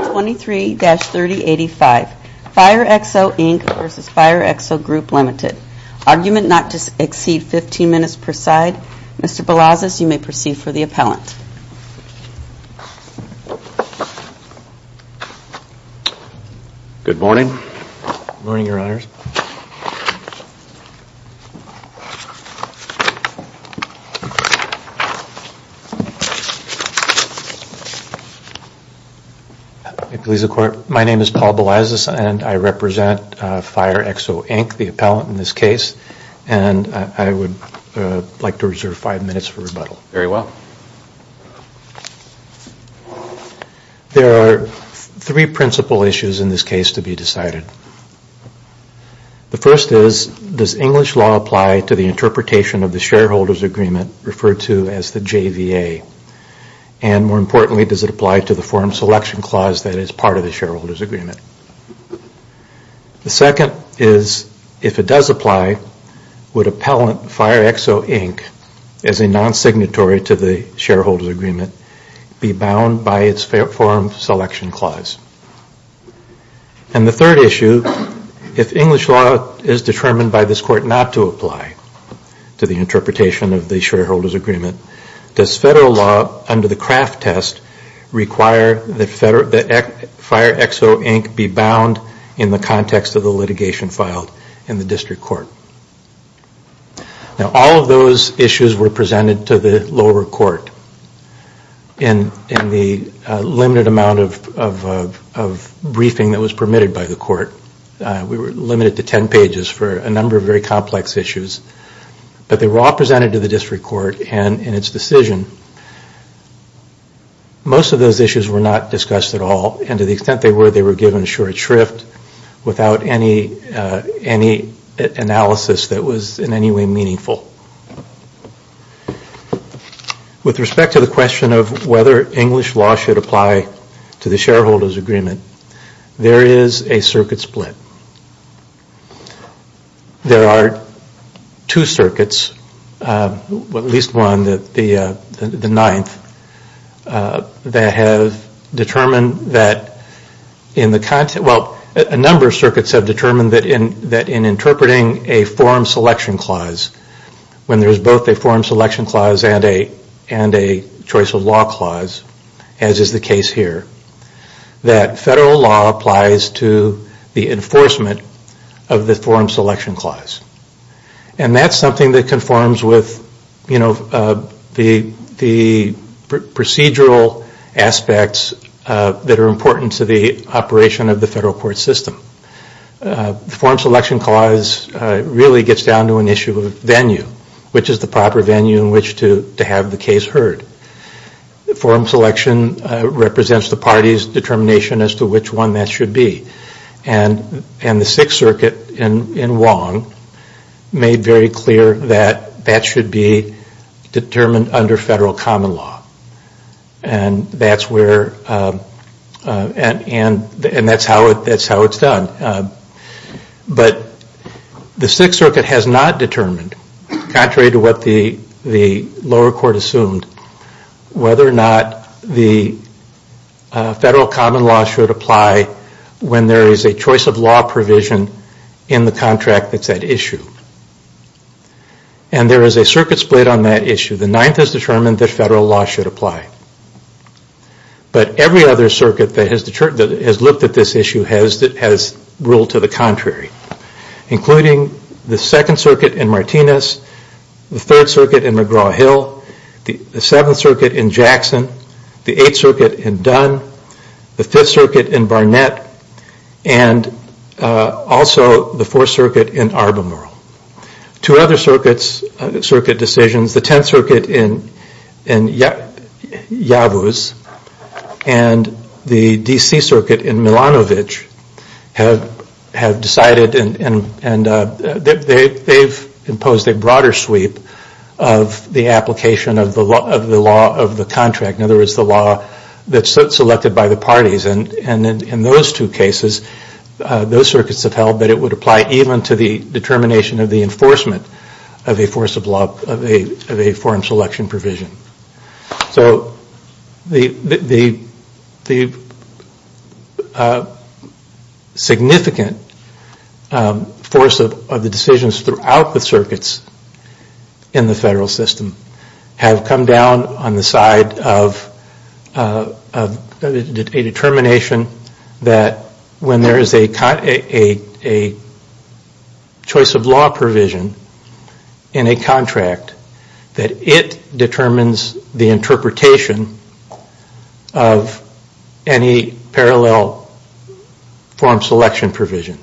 23-3085 Firexo Inc v. Firexo Grp Ltd. Argument not to exceed 15 minutes per side. Mr. Balazs, you may proceed for the appellant. Good morning. Good morning, Your Honors. My name is Paul Balazs and I represent Firexo Inc, the appellant in this case. And I would like to reserve five minutes for rebuttal. There are three principal issues in this case to be decided. The first is, does English law apply to the interpretation of the shareholders agreement referred to as the JVA? And more importantly, does it apply to the forum selection clause that is part of the shareholders agreement? The second is, if it does apply, would appellant Firexo Inc as a non-signatory to the shareholders agreement be bound by its forum selection clause? And the third issue, if English law is determined by this Court not to apply to the interpretation of the shareholders agreement, does federal law under the Kraft test require that Firexo Inc be bound in the context of the litigation filed in the district court? Now, all of those issues were presented to the lower court in the limited amount of briefing that was permitted by the court. We were limited to 10 pages for a number of very complex issues. But they were all presented to the district court in its decision. Most of those issues were not discussed at all, and to the extent they were, they were given a short shrift without any analysis that was in any way meaningful. With respect to the question of whether English law should apply to the shareholders agreement, there is a circuit split. There are two circuits, at least one, the ninth, that have determined that, well, a number of circuits have determined that in interpreting a forum selection clause, when there is both a forum selection clause and a choice of law clause, as is the case here, that federal law applies to the enforcement of the forum selection clause. And that is something that conforms with the procedural aspects that are important to the operation of the federal court system. The forum selection clause really gets down to an issue of venue, which is the proper venue in which to have the case heard. The forum selection represents the party's determination as to which one that should be. And the sixth circuit in Wong made very clear that that should be determined under federal common law. And that is how it is done. But the sixth circuit has not determined, contrary to what the lower court assumed, whether or not the federal common law should apply when there is a choice of law provision in the contract that is at issue. And there is a circuit split on that issue. The ninth has determined that federal law should apply. But every other circuit that has looked at this issue has ruled to the contrary. Including the second circuit in Martinez, the third circuit in McGraw Hill, the seventh circuit in Jackson, the eighth circuit in Dunn, the fifth circuit in Barnett, and also the fourth circuit in Arbemore. Two other circuit decisions, the tenth circuit in Yavuz and the DC circuit in Milanovich, have imposed a broader sweep of the application of the law of the contract. In other words, the law that is selected by the parties. And in those two cases, those circuits have held that it would apply even to the determination of the enforcement of a foreign selection provision. So the significant force of the decisions throughout the circuits in the federal system have come down on the side of a determination that when there is a choice of law provision in a contract, that it determines the interpretation of any parallel foreign selection provision.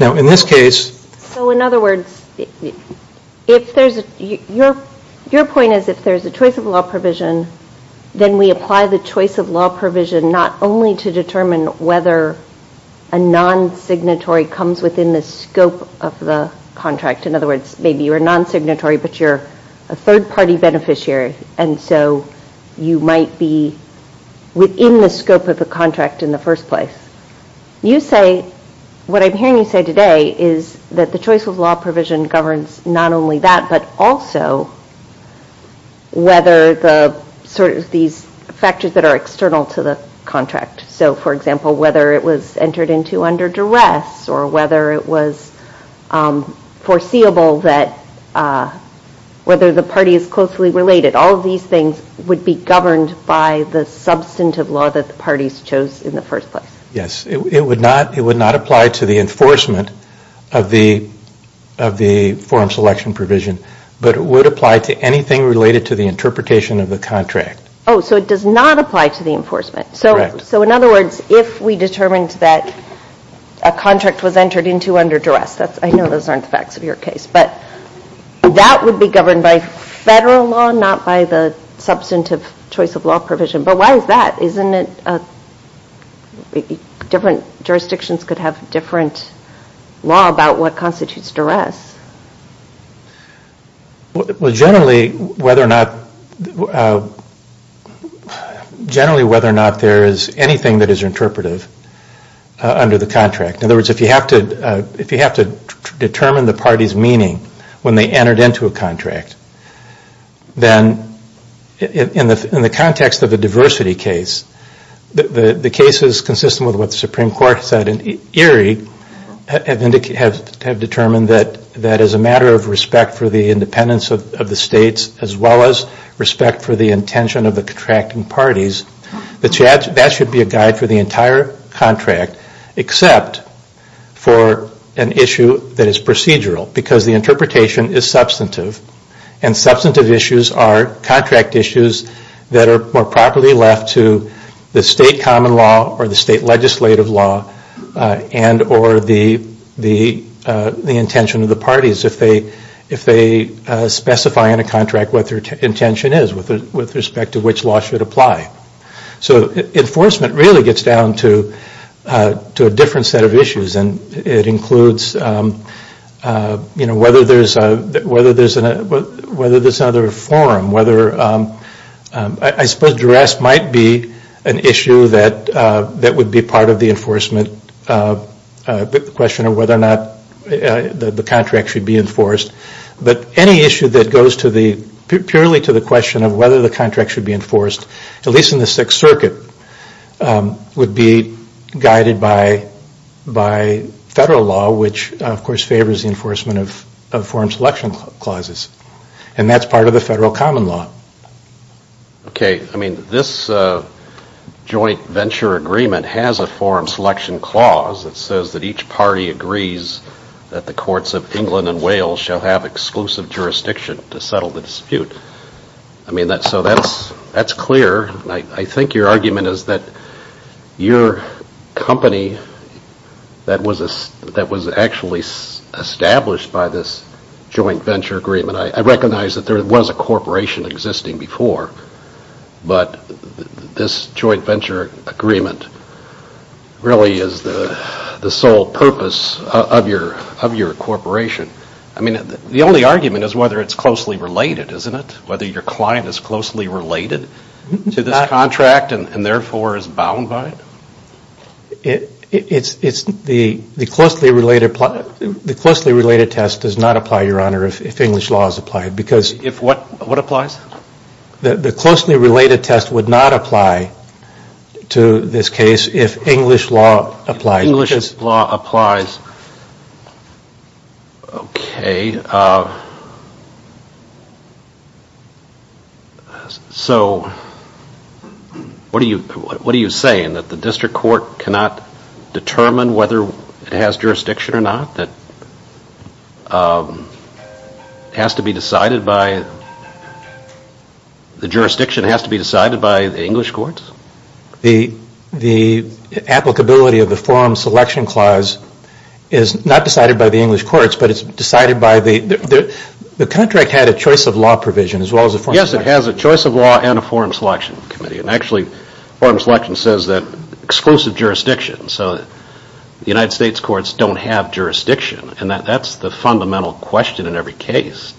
Now in this case... Your point is if there's a choice of law provision, then we apply the choice of law provision not only to determine whether a non-signatory comes within the scope of the contract. In other words, maybe you're a non-signatory, but you're a third-party beneficiary. And so you might be within the scope of the contract in the first place. What I'm hearing you say today is that the choice of law provision governs not only that, but also whether these factors that are external to the contract. So for example, whether it was entered into under duress, or whether it was foreseeable that whether the party is closely related. All of these things would be governed by the substantive law that the parties chose in the first place. Yes. It would not apply to the enforcement of the foreign selection provision, but it would apply to anything related to the interpretation of the contract. Oh, so it does not apply to the enforcement. Correct. So in other words, if we determined that a contract was entered into under duress, I know those aren't the facts of your case, but that would be governed by federal law, not by the substantive choice of law provision. But why is that? Different jurisdictions could have different law about what constitutes duress. Generally, whether or not there is anything that is interpretive under the contract. In other words, if you have to determine the party's meaning when they entered into a contract, then in the context of a diversity case, the cases consistent with what the Supreme Court said in Erie, have determined that as a matter of respect for the independence of the states, as well as respect for the intention of the contracting parties, that should be a guide for the entire contract, except for an issue that is procedural because the interpretation is substantive and substantive issues are contract issues that are more properly left to the state common law or the state legislative law and or the intention of the parties. If they specify in a contract what their intention is with respect to which law should apply. So enforcement really gets down to a different set of issues and it includes whether there is another forum, I suppose duress might be an issue that would be part of the enforcement, the question of whether or not the contract should be enforced, but any issue that goes purely to the question of whether the contract should be enforced, at least in the Sixth Circuit, would be guided by federal law, which of course favors the enforcement of forum selection clauses and that is part of the federal common law. This joint venture agreement has a forum selection clause that says that each party agrees that the courts of England and Wales shall have exclusive jurisdiction to settle the dispute. So that's clear, I think your argument is that your company that was actually established by this joint venture agreement, I recognize that there was a corporation existing before, but this joint venture agreement really is the sole purpose of your corporation. The only argument is whether it's closely related, isn't it? Whether your client is closely related to this contract and therefore is bound by it? The closely related test does not apply, Your Honor, if English law is applied. What applies? The closely related test would not apply to this case if English law applies. If English law applies, okay. So what are you saying, that the district court cannot determine whether it has jurisdiction or not? That it has to be decided by, the jurisdiction has to be decided by the English courts? The applicability of the forum selection clause is not decided by the English courts, but it's decided by, the contract had a choice of law provision as well as a forum selection clause. Yes, it has a choice of law and a forum selection committee. Actually, forum selection says that exclusive jurisdiction, so the United States courts don't have jurisdiction and that's the fundamental question in every case.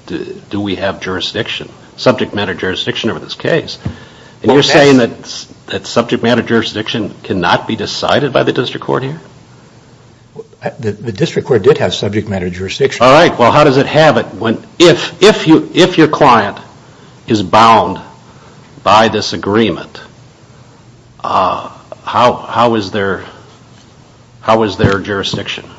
Do we have jurisdiction, subject matter jurisdiction over this case? You're saying that subject matter jurisdiction cannot be decided by the district court here? The district court did have subject matter jurisdiction. All right, well how does it have it? If your client is bound by this agreement, how is their jurisdiction?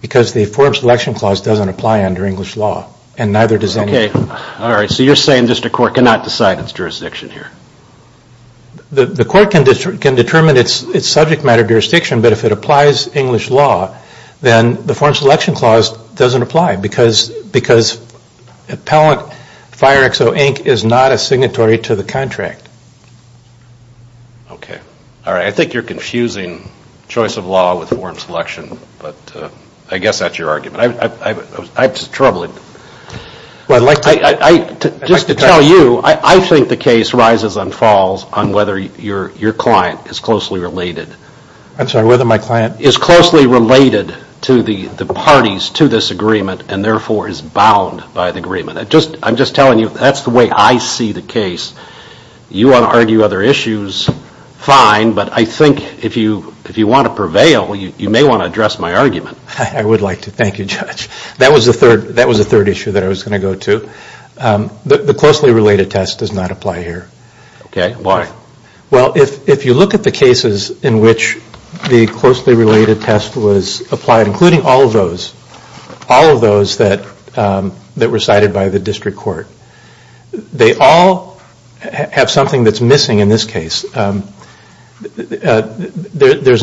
Because the forum selection clause doesn't apply under English law and neither does any other. Okay, all right, so you're saying district court cannot decide its jurisdiction here? The court can determine its subject matter jurisdiction, but if it applies English law, then the forum selection clause doesn't apply, because appellant Fire XO Inc. is not a signatory to the contract. Okay, all right, I think you're confusing choice of law with forum selection, but I guess that's your argument. I'm just troubled. Just to tell you, I think the case rises and falls on whether your client is closely related. I'm sorry, whether my client is closely related to the parties to this agreement and therefore is bound by the agreement. I'm just telling you, that's the way I see the case. You want to argue other issues, fine, but I think if you want to prevail, you may want to address my argument. That was the third issue that I was going to go to. The closely related test does not apply here. If you look at the cases in which the closely related test was applied, including all of those, all of those that were cited by the district court, they all have something that's missing in this case. There's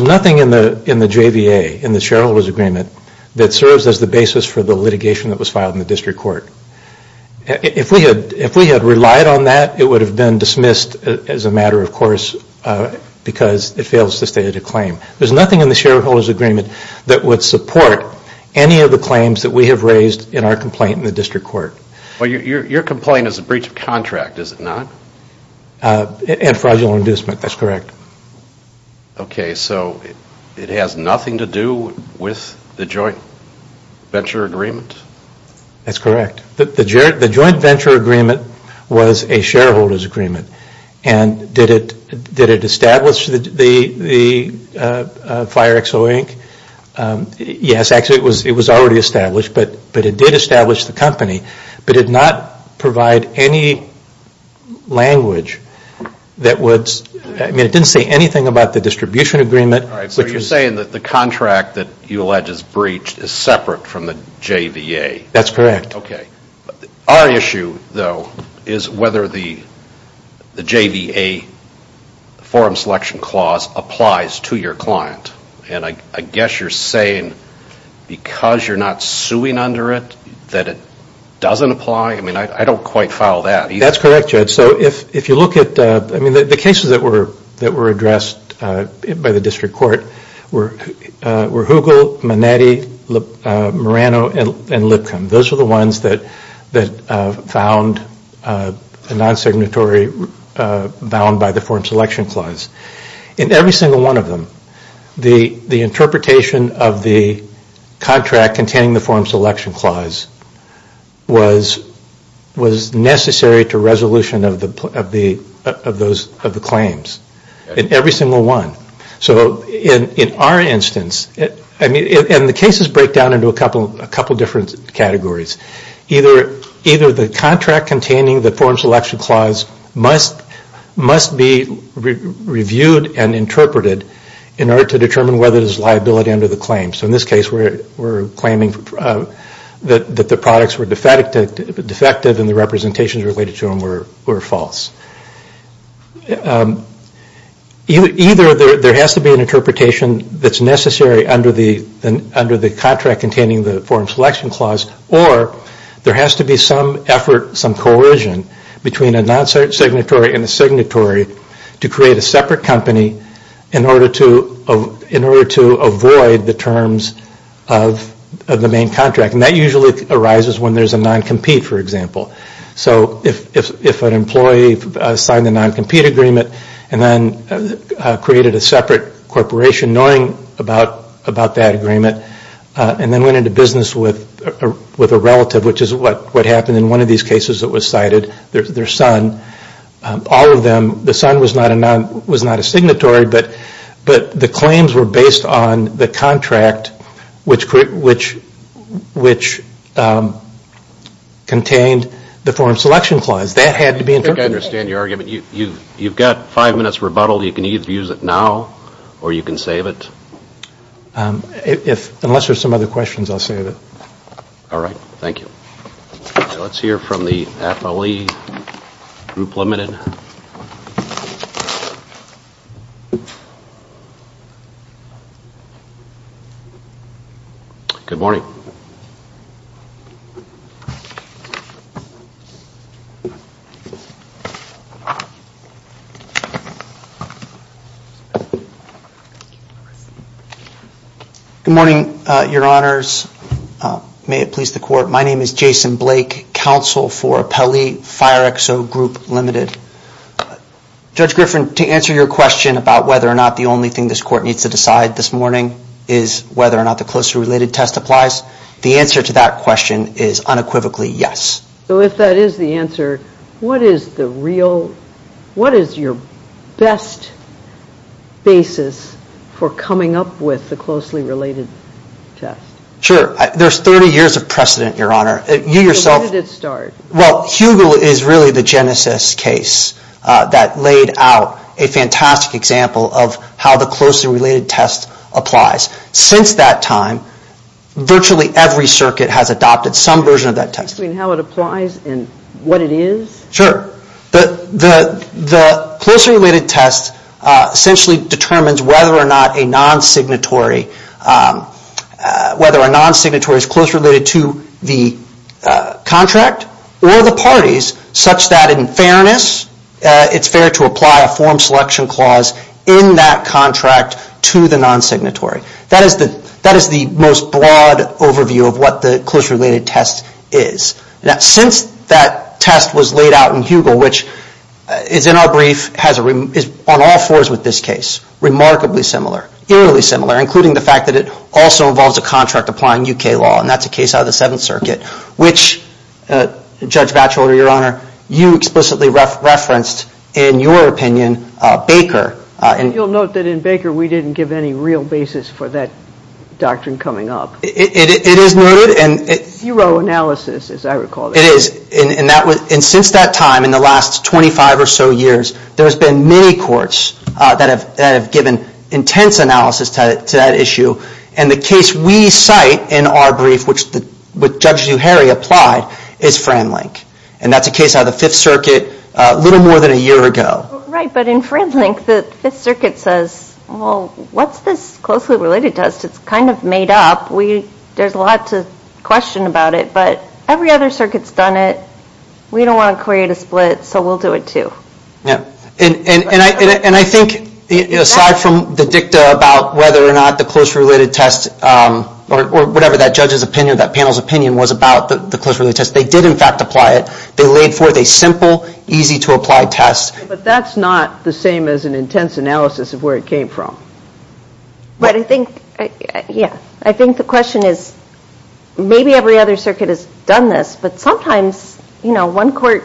nothing in the JVA, in the shareholders agreement, that serves as the basis for the litigation that was filed in the district court. If we had relied on that, it would have been dismissed as a matter of course, because it fails to state a claim. There's nothing in the shareholders agreement that would support any of the claims that we have raised in our complaint in the district court. Your complaint is a breach of contract, is it not? Fraudulent inducement, that's correct. It has nothing to do with the joint venture agreement? That's correct. The joint venture agreement was a shareholders agreement. And did it establish the Fire XO Inc.? Yes, actually it was already established, but it did establish the company, but it did not provide any language that would, I mean it didn't say anything about the distribution agreement. So you're saying that the contract that you allege is breached is separate from the JVA? That's correct. Our issue, though, is whether the JVA forum selection clause applies to your client. And I guess you're saying because you're not suing under it, that it doesn't apply? I mean I don't quite follow that. That's correct, Judge. So if you look at, I mean the cases that were addressed by the district court were Hoogle, Manetti, Marano, and Lipcomb. Those are the ones that found a non-signatory bound by the forum selection clause. In every single one of them, the interpretation of the contract containing the forum selection clause was necessary to resolution of the claims. In every single one. So in our instance, and the cases break down into a couple different categories. Either the contract containing the forum selection clause must be reviewed and interpreted in order to determine whether there's liability under the claim. So in this case we're claiming that the products were defective and the representations related to them were false. Either there has to be an interpretation that's necessary under the contract containing the forum selection clause, or there has to be some effort, some coercion between a non-signatory and a signatory to create a separate company in order to avoid the terms of the main contract. And that usually arises when there's a non-compete, for example. So if an employee signed a non-compete agreement and then created a separate corporation knowing about that agreement, and then went into business with a relative, which is what happened in one of these cases that was cited, their son. All of them, the son was not a signatory, but the claims were based on the contract which contained the forum selection clause. That had to be interpreted. I think I understand your argument. You've got five minutes rebuttal. You can either use it now or you can save it. Unless there's some other questions, I'll save it. All right. Thank you. Let's hear from the affilee, Group Limited. Good morning. Good morning, Your Honors. May it please the Court, my name is Jason Blake, Counsel for Appellee FireXO Group Limited. Judge Griffin, to answer your question about whether or not the only thing this court needs to decide this morning is whether or not the closely related test applies, the answer to that question is unequivocally yes. So if that is the answer, what is your best basis for coming up with the closely related test? Sure. There's 30 years of precedent, Your Honor. So when did it start? Well, Hugel is really the genesis case that laid out a fantastic example of how the closely related test applies. Since that time, virtually every circuit has adopted some version of that test. You mean how it applies and what it is? Sure. The closely related test essentially determines whether or not a non-signatory is closely related to the contract or the parties, such that in fairness, it's fair to apply a form selection clause in that contract to the non-signatory. That is the most broad overview of what the closely related test is. Since that test was laid out in Hugel, which is in our brief, is on all fours with this case, remarkably similar, eerily similar, including the fact that it also involves a contract applying UK law, and that's a case out of the Fifth Circuit, and that's a case that's explicitly referenced, in your opinion, Baker. You'll note that in Baker, we didn't give any real basis for that doctrine coming up. It is noted. Zero analysis, as I recall. It is. And since that time, in the last 25 or so years, there's been many courts that have given intense analysis to that issue. And the case we cite in our brief, which Judge Zuhairi applied, is Framlink. And that's a case out of the Fifth Circuit a little more than a year ago. Right, but in Framlink, the Fifth Circuit says, well, what's this closely related test? It's kind of made up. There's a lot to question about it, but every other circuit's done it. We don't want to create a split, so we'll do it too. And I think, aside from the dicta about whether or not the closely related test, or whatever that judge's opinion, that panel's opinion was about the closely related test, they did in fact apply it. They laid forth a simple, easy to apply test. But that's not the same as an intense analysis of where it came from. But I think, yeah, I think the question is, maybe every other circuit has done this, but sometimes, you know, one court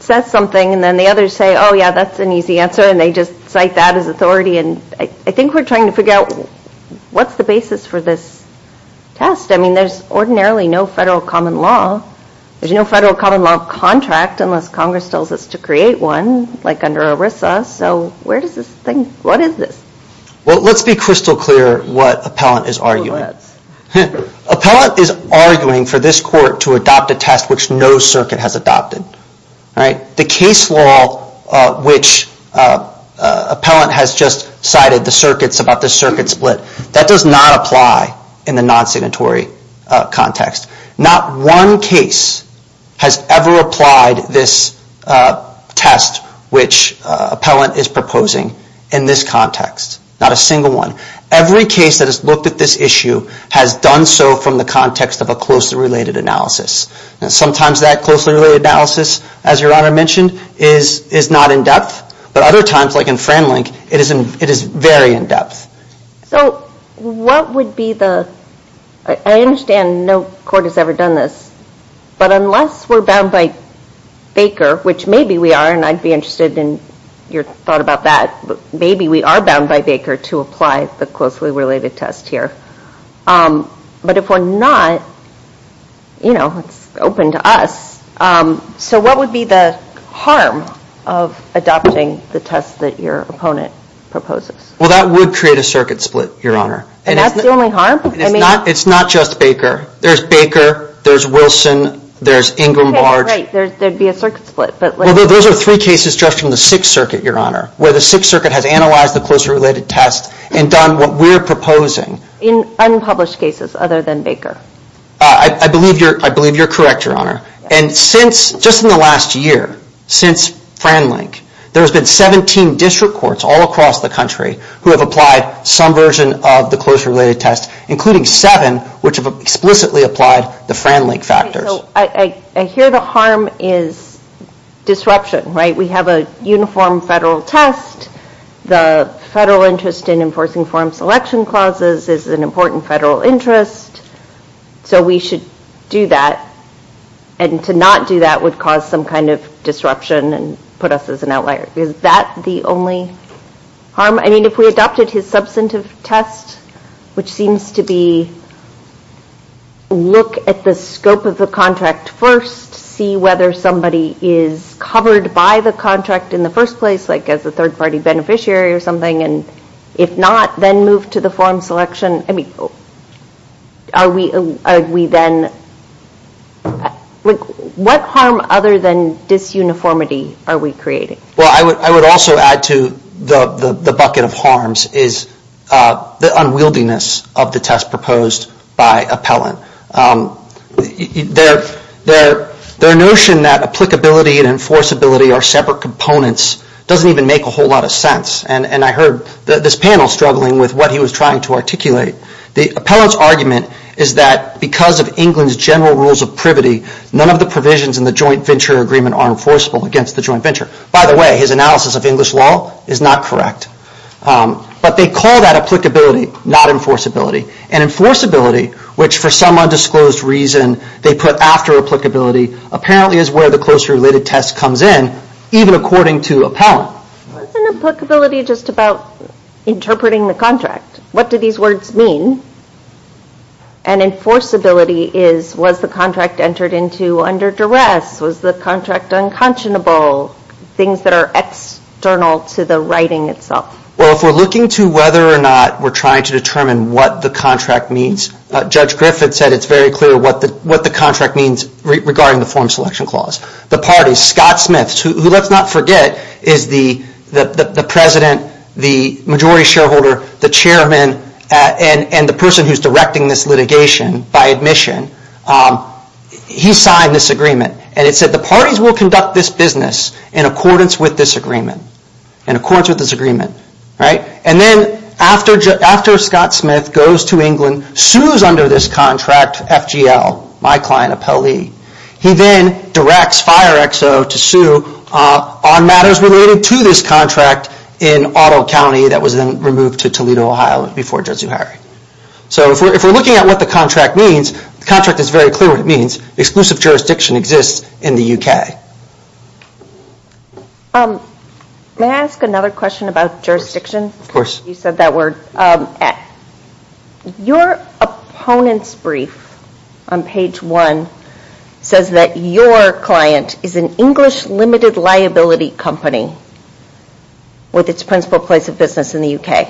says something, and then the others say, oh, yeah, that's an easy answer, and they just cite that as authority. And I think we're trying to figure out, what's the basis for this test? I mean, there's ordinarily no federal common law. There's no federal common law contract unless Congress tells us to create one, like under ERISA. So where does this thing, what is this? Well, let's be crystal clear what appellant is arguing. Appellant is arguing for this court to adopt a test which no circuit has adopted. The case law which appellant has just cited, the circuits, about the circuit split, that does not apply in the non-signatory context. Not one case has ever applied this test which appellant is proposing in this context. Not a single one. Every case that has looked at this issue has done so from the context of a closely related analysis. And sometimes that closely related analysis, as your Honor mentioned, is not in-depth, but other times, like in Framlink, it is very in-depth. So what would be the, I understand no court has ever done this, but unless we're bound by Baker, which maybe we are, and I'd be happy to adopt the closely related test here. But if we're not, you know, it's open to us. So what would be the harm of adopting the test that your opponent proposes? Well, that would create a circuit split, your Honor. And that's the only harm? It's not just Baker. There's Baker, there's Wilson, there's Ingram Barge. Okay, right, there'd be a circuit split. Well, those are three cases just from the Sixth Circuit, your Honor, where the Sixth Circuit has analyzed the closely related test and done what we're proposing. In unpublished cases other than Baker? I believe you're correct, your Honor. And since, just in the last year, since Framlink, there's been 17 district courts all across the country who have applied some version of the closely related test, including seven which have explicitly applied the Framlink factors. Okay, so I hear the harm is disruption, right? We have a uniform federal test. The federal interest in enforcing foreign selection clauses is an important federal interest. So we should do that. And to not do that would cause some kind of disruption and put us as an outlier. Is that the only harm? I mean, if we adopted his substantive test, which seems to be look at the scope of the contract first, see whether somebody is covered by the contract in the first place, like as a third party beneficiary or something, and if not, then move to the foreign selection. I mean, are we then, what harm other than disuniformity are we creating? Well, I would also add to the bucket of harms is the unwieldiness of the test proposed by Appellant. Their notion that applicability and enforceability are separate components doesn't even make a whole lot of sense. And I heard this panel struggling with what he was trying to articulate. The Appellant's argument is that because of England's general rules of privity, none of the provisions in the joint venture agreement are enforceable against the joint venture. By the way, his analysis of English law is not correct. But they call that applicability, not enforceability. And enforceability, which for some undisclosed reason they put after applicability, apparently is where the closely related test comes in, even according to Appellant. Wasn't applicability just about interpreting the contract? What do these words mean? And enforceability is, was the contract entered into under duress? Was the contract unconscionable? Things that are external to the writing itself. Well, if we're looking to whether or not we're trying to determine what the contract means, Judge Griffith said it's very clear what the contract means regarding the foreign selection clause. The parties, Scotsmiths, who let's not forget is the president, the majority shareholder, the chairman and the person who's directing this litigation by admission, he signed this agreement. And it said the parties will conduct this business in accordance with this agreement. And then after Scotsmith goes to England, sues under this contract FGL, my client XO to sue on matters related to this contract in Ottawa County that was then removed to Toledo, Ohio before Judge Zuhairi. So if we're looking at what the contract means, the contract is very clear what it means. Exclusive jurisdiction exists in the UK. May I ask another question about jurisdiction? Of course. You said that word. Your opponents brief on page one says that your client is an English limited liability company with its principal place of business in the UK.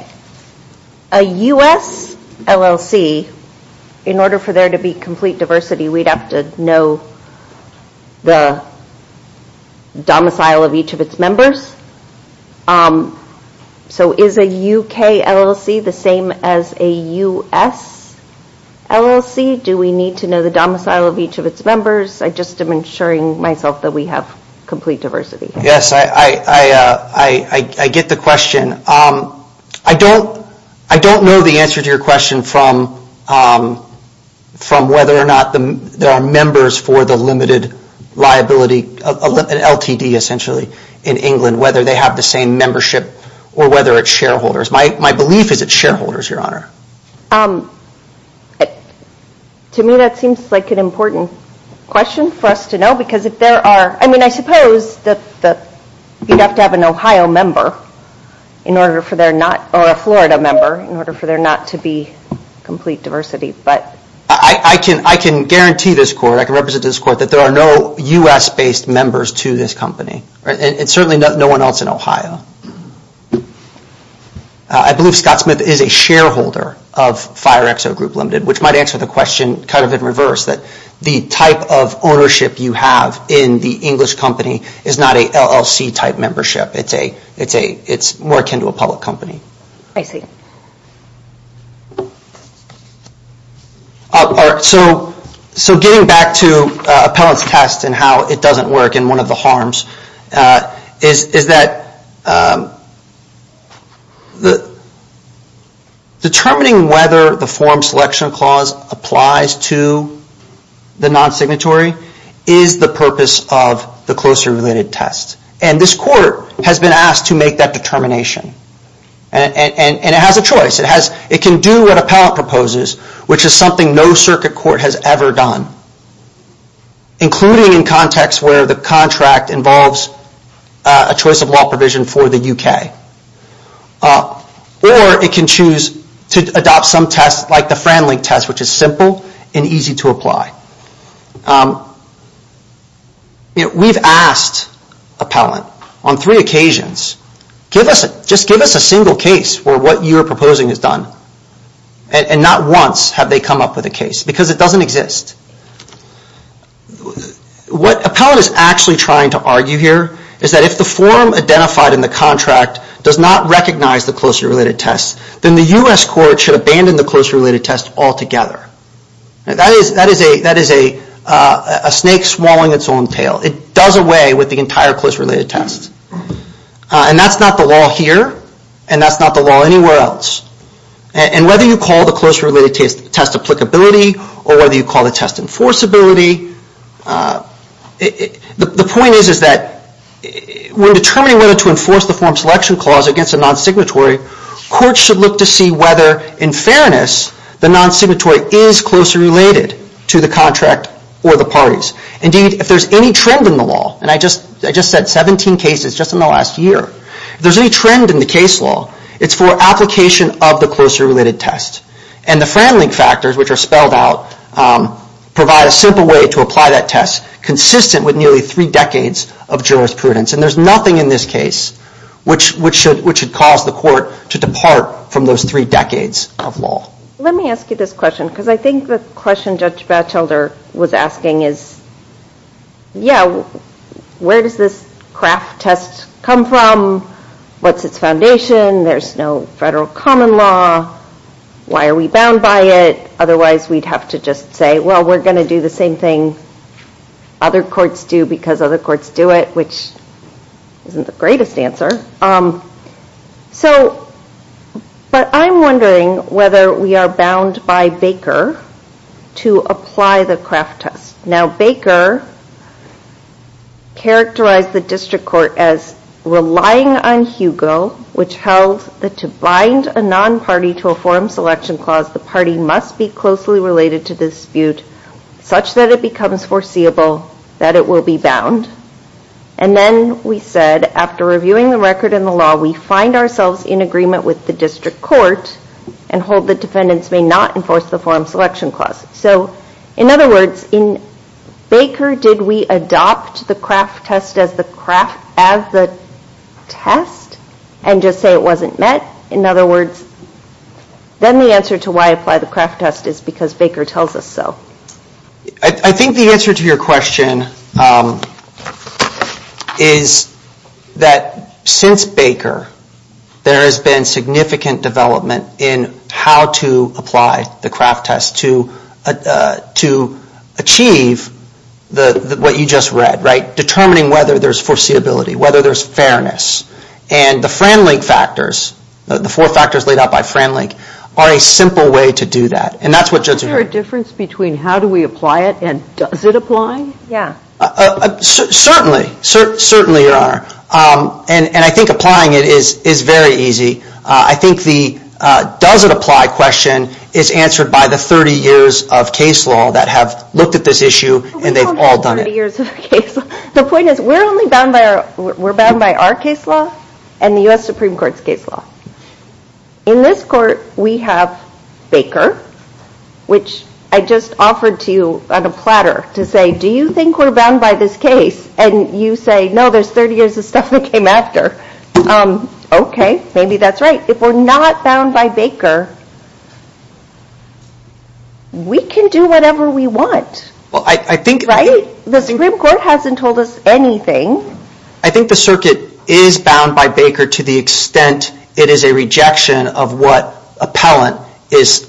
A US LLC, in order for there to be complete diversity, we'd have to know the domicile of each of its members. So is a UK LLC the same as a US LLC? Do we need to know the domicile of each of its members? I just am ensuring myself that we have complete diversity. Yes, I get the question. I don't know the answer to your question from whether or not there are members for the limited liability LLC essentially in England, whether they have the same membership or whether it's shareholders. My belief is it's shareholders, Your Honor. To me that seems like an important question for us to know because if there are, I mean I suppose that you'd have to have an Ohio member in order for there not, or a Florida member, in order for there not to be complete diversity. I can guarantee this Court, I can represent this Court, that there are no US based members to this company. And certainly no one else in Ohio. I believe Scott Smith is a shareholder of Fire Exo Group Limited, which might answer the question kind of in reverse, that the type of ownership you have in the English company is not a LLC type membership. It's more akin to a public company. I see. So getting back to appellant's test and how it doesn't work and one of the harms is that determining whether the form selection clause applies to the non-signatory is the and it has a choice. It can do what appellant proposes, which is something no circuit court has ever done. Including in context where the contract involves a choice of law provision for the UK. Or it can choose to adopt some test like the Fran Link test, which is simple and easy to apply. We've asked appellant on three occasions, just give us a single case where what you are proposing is done. And not once have they come up with a case because it doesn't exist. What appellant is actually trying to argue here is that if the form identified in the contract does not recognize the closely related test, then the US Court should abandon the closely related test altogether. That is a snake swallowing its own tail. It does away with the entire closely related test. And that's not the law here and that's not the law anywhere else. And whether you call the closely related test applicability or whether you call the test enforceability, the point is that when determining whether to enforce the form selection clause against a non-signatory, courts should look to see whether in fairness the non-signatory is closely related to the contract or the parties. Indeed, if there's any trend in the law, and I just said 17 cases just in the last year, if there's any trend in the case law, it's for application of the closely related test. And the Fran Link factors, which are spelled out, provide a simple way to apply that test consistent with nearly three decades of jurisprudence. And there's nothing in this case which should cause the court to depart from those three decades of law. Let me ask you this question because I think the question Judge Batchelder was asking is, yeah, where does this Kraft test come from? What's its foundation? There's no federal common law. Why are we bound by it? Otherwise, we'd have to just say, well, we're going to do the same thing other courts do because other courts do it, which isn't the greatest answer. But I'm wondering whether we are bound by Baker to apply the Kraft test. Now, Baker characterized the district court as relying on Hugo, which held that to bind a non-party to a forum selection clause, the party must be closely related to the dispute such that it becomes foreseeable that it will be bound. And then we said, after reviewing the record in the law, we find ourselves in agreement with the district court and hold the defendants may not enforce the forum selection clause. So in other words, in Baker, did we adopt the Kraft test as the test? And just say it wasn't met? In other words, then the answer to why apply the Kraft test is because Baker tells us so. I think the answer to your question is that since Baker, there has been significant development in how to apply the Kraft test to achieve what you just read, right? The four factors laid out by Fran Link are a simple way to do that. And that's what judges are doing. Certainly. Certainly, Your Honor. And I think applying it is very easy. I think the does it apply question is answered by the 30 years of case law that have looked at this issue and they've all done it. The point is we're only bound by our case law and the U.S. Supreme Court's case law. In this court, we have Baker, which I just offered to you on a platter to say, do you think we're bound by this case? And you say, no, there's 30 years of stuff that came after. OK, maybe that's right. If we're not bound by Baker, we can do whatever we want. Right? The Supreme Court hasn't told us anything. I think the circuit is bound by Baker to the extent it is a rejection of what appellant is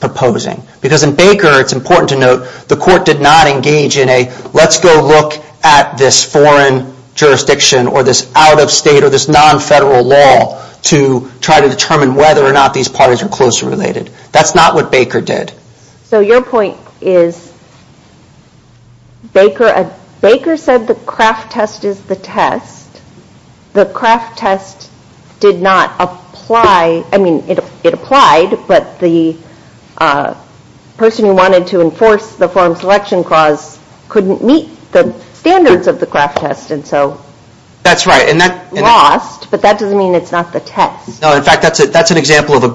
proposing. Because in Baker, it's important to note, the court did not engage in a let's go look at this foreign jurisdiction or this out-of-state or this non-federal law to try to determine whether or not these parties are closely related. That's not what Baker did. So your point is, Baker said the Kraft test is the test. The Kraft test did not apply, I mean, it applied, but the person who wanted to enforce the Foreign Selection Clause couldn't meet the standards of the Kraft test, and so it's lost, but that doesn't mean it's not the test. No, in fact, that's an example of a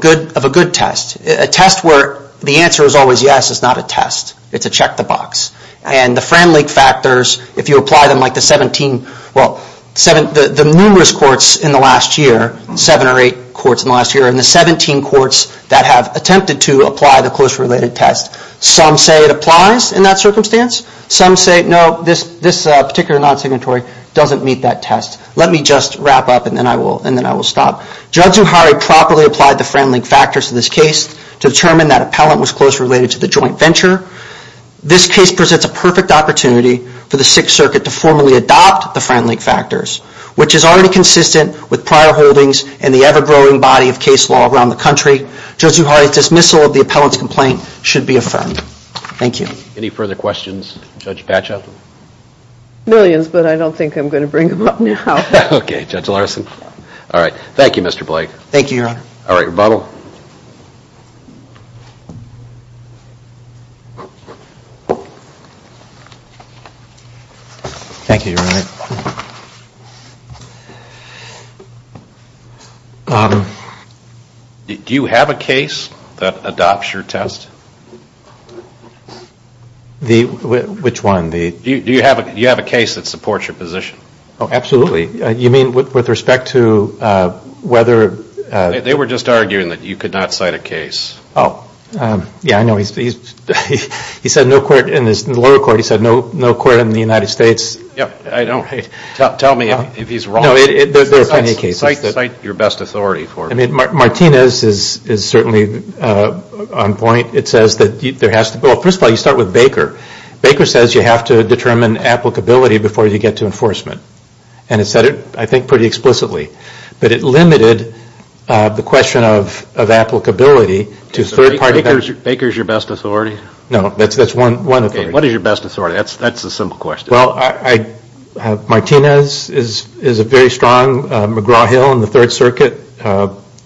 good test. A test where the answer is always yes is not a test. It's a check the box. And the Fran Lake factors, if you apply them like the 17, well, the numerous courts in the last year, 7 or 8 courts in the last year, and the 17 courts that have attempted to apply the closely related test, some say it applies in that circumstance. Some say, no, this particular non-signatory doesn't meet that test. Let me just wrap up and then I will stop. Judge Zuhairi properly applied the Fran Lake factors to this case to determine that appellant was closely related to the joint venture. This case presents a perfect opportunity for the Sixth Circuit to formally adopt the Fran Lake factors, which is already consistent with prior holdings in the ever-growing body of case law around the country. Judge Zuhairi's dismissal of the appellant's complaint should be affirmed. Thank you. Any further questions, Judge Batchel? Millions, but I don't think I'm going to bring them up now. Okay, Judge Larson. Thank you, Mr. Blake. Thank you, Your Honor. All right, rebuttal. Thank you, Your Honor. Do you have a case that adopts your test? Which one? Do you have a case that supports your position? Absolutely. They were just arguing that you could not cite a case. He said no court in the United States. Tell me if he's wrong. Martinez is certainly on point. First of all, you start with Baker. Baker says you have to determine applicability before you get to enforcement. And he said it, I think, pretty explicitly. But it limited the question of applicability to third parties. Baker is your best authority? No, that's one authority. What is your best authority? That's a simple question. Well, Martinez is a very strong, McGraw-Hill in the Third Circuit,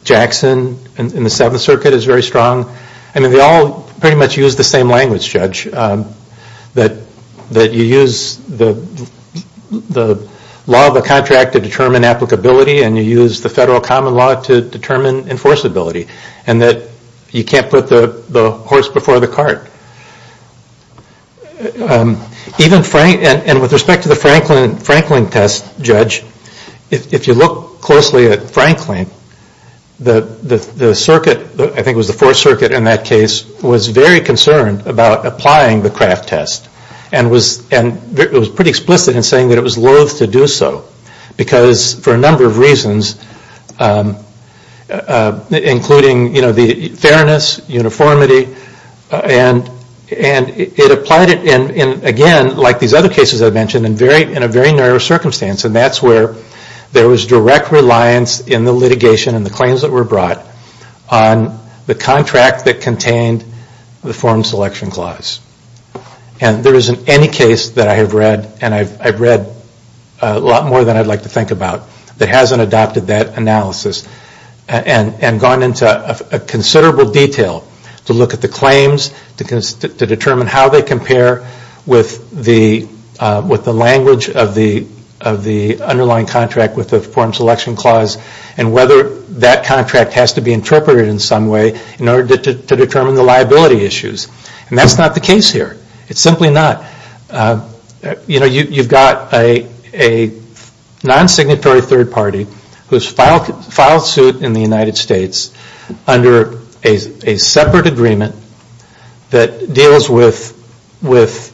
Jackson in the Seventh Circuit is very strong. They all pretty much use the same language, Judge, that you use the law of the contract to determine applicability and you use the federal common law to determine enforceability and that you can't put the horse before the cart. And with respect to the Franklin test, Judge, if you look closely at Franklin, the circuit, I think it was the Fourth Circuit in that case, was very concerned about applying the Kraft test and it was pretty explicit in saying that it was loath to do so because for a number of reasons, including the fairness, uniformity, and it applied it in, again, like these other cases I mentioned, in a very narrow circumstance. And that's where there was direct reliance in the litigation and the claims that were brought on the contract that contained the foreign selection clause. And there isn't any case that I have read, and I've read a lot more than I'd like to think about, that hasn't adopted that analysis and gone into considerable detail to look at the claims, to determine how they compare with the language of the underlying contract with the foreign selection clause and whether that contract has to be interpreted in some way in order to determine the liability issues. And that's not the case here. It's simply not. You know, you've got a non-signatory third party who's filed suit in the United States under a separate agreement that deals with what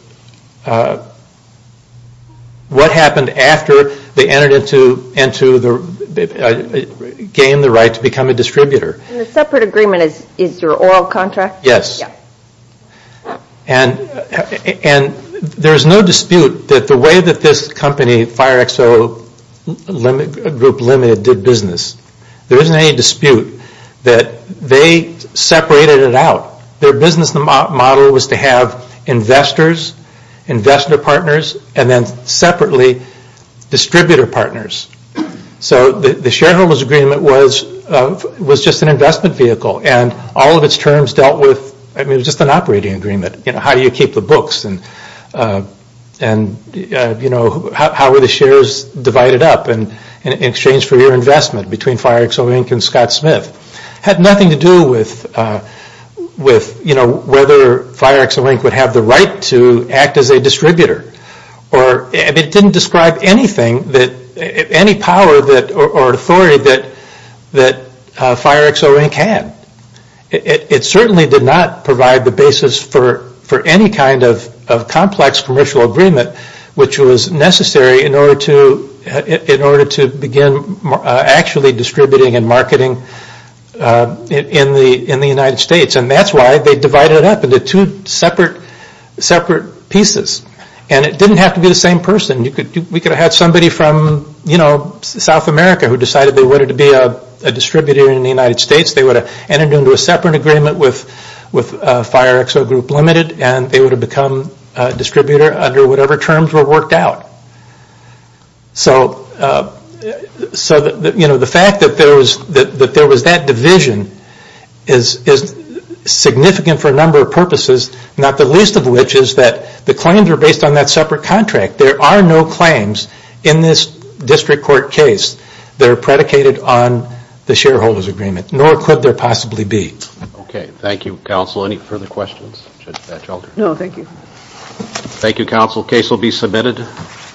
happened after they entered into, gained the right to become a distributor. And the separate agreement is your oral contract? Yes. And there's no dispute that the way that this company, Fire Expo Group Limited, did business. There isn't any dispute that they separated it out. Their business model was to have investors, investor partners, and then separately distributor partners. So the shareholders agreement was just an investment vehicle. And all of its terms dealt with, I mean, it was just an operating agreement. You know, how do you keep the books, and how are the shares divided up in exchange for your investment between Fire Expo Inc. and Scott Smith. It had nothing to do with whether Fire Expo Inc. would have the right to act as a distributor. It didn't describe anything, any power or authority that Fire Expo Inc. had. It certainly did not provide the basis for any kind of complex commercial agreement which was necessary in order to begin actually distributing and marketing in the United States. And that's why they divided it up into two separate pieces. And it didn't have to be the same person. We could have had somebody from South America who decided they wanted to be a distributor in the United States. They would have entered into a separate agreement with Fire Expo Group Limited and they would have become a distributor under whatever terms were worked out. So, you know, the fact that there was that division is significant for a number of purposes. Not the least of which is that the claims are based on that separate contract. There are no claims in this district court case that are predicated on the shareholders agreement. Nor could there possibly be. Okay, thank you counsel. Any further questions? No, thank you.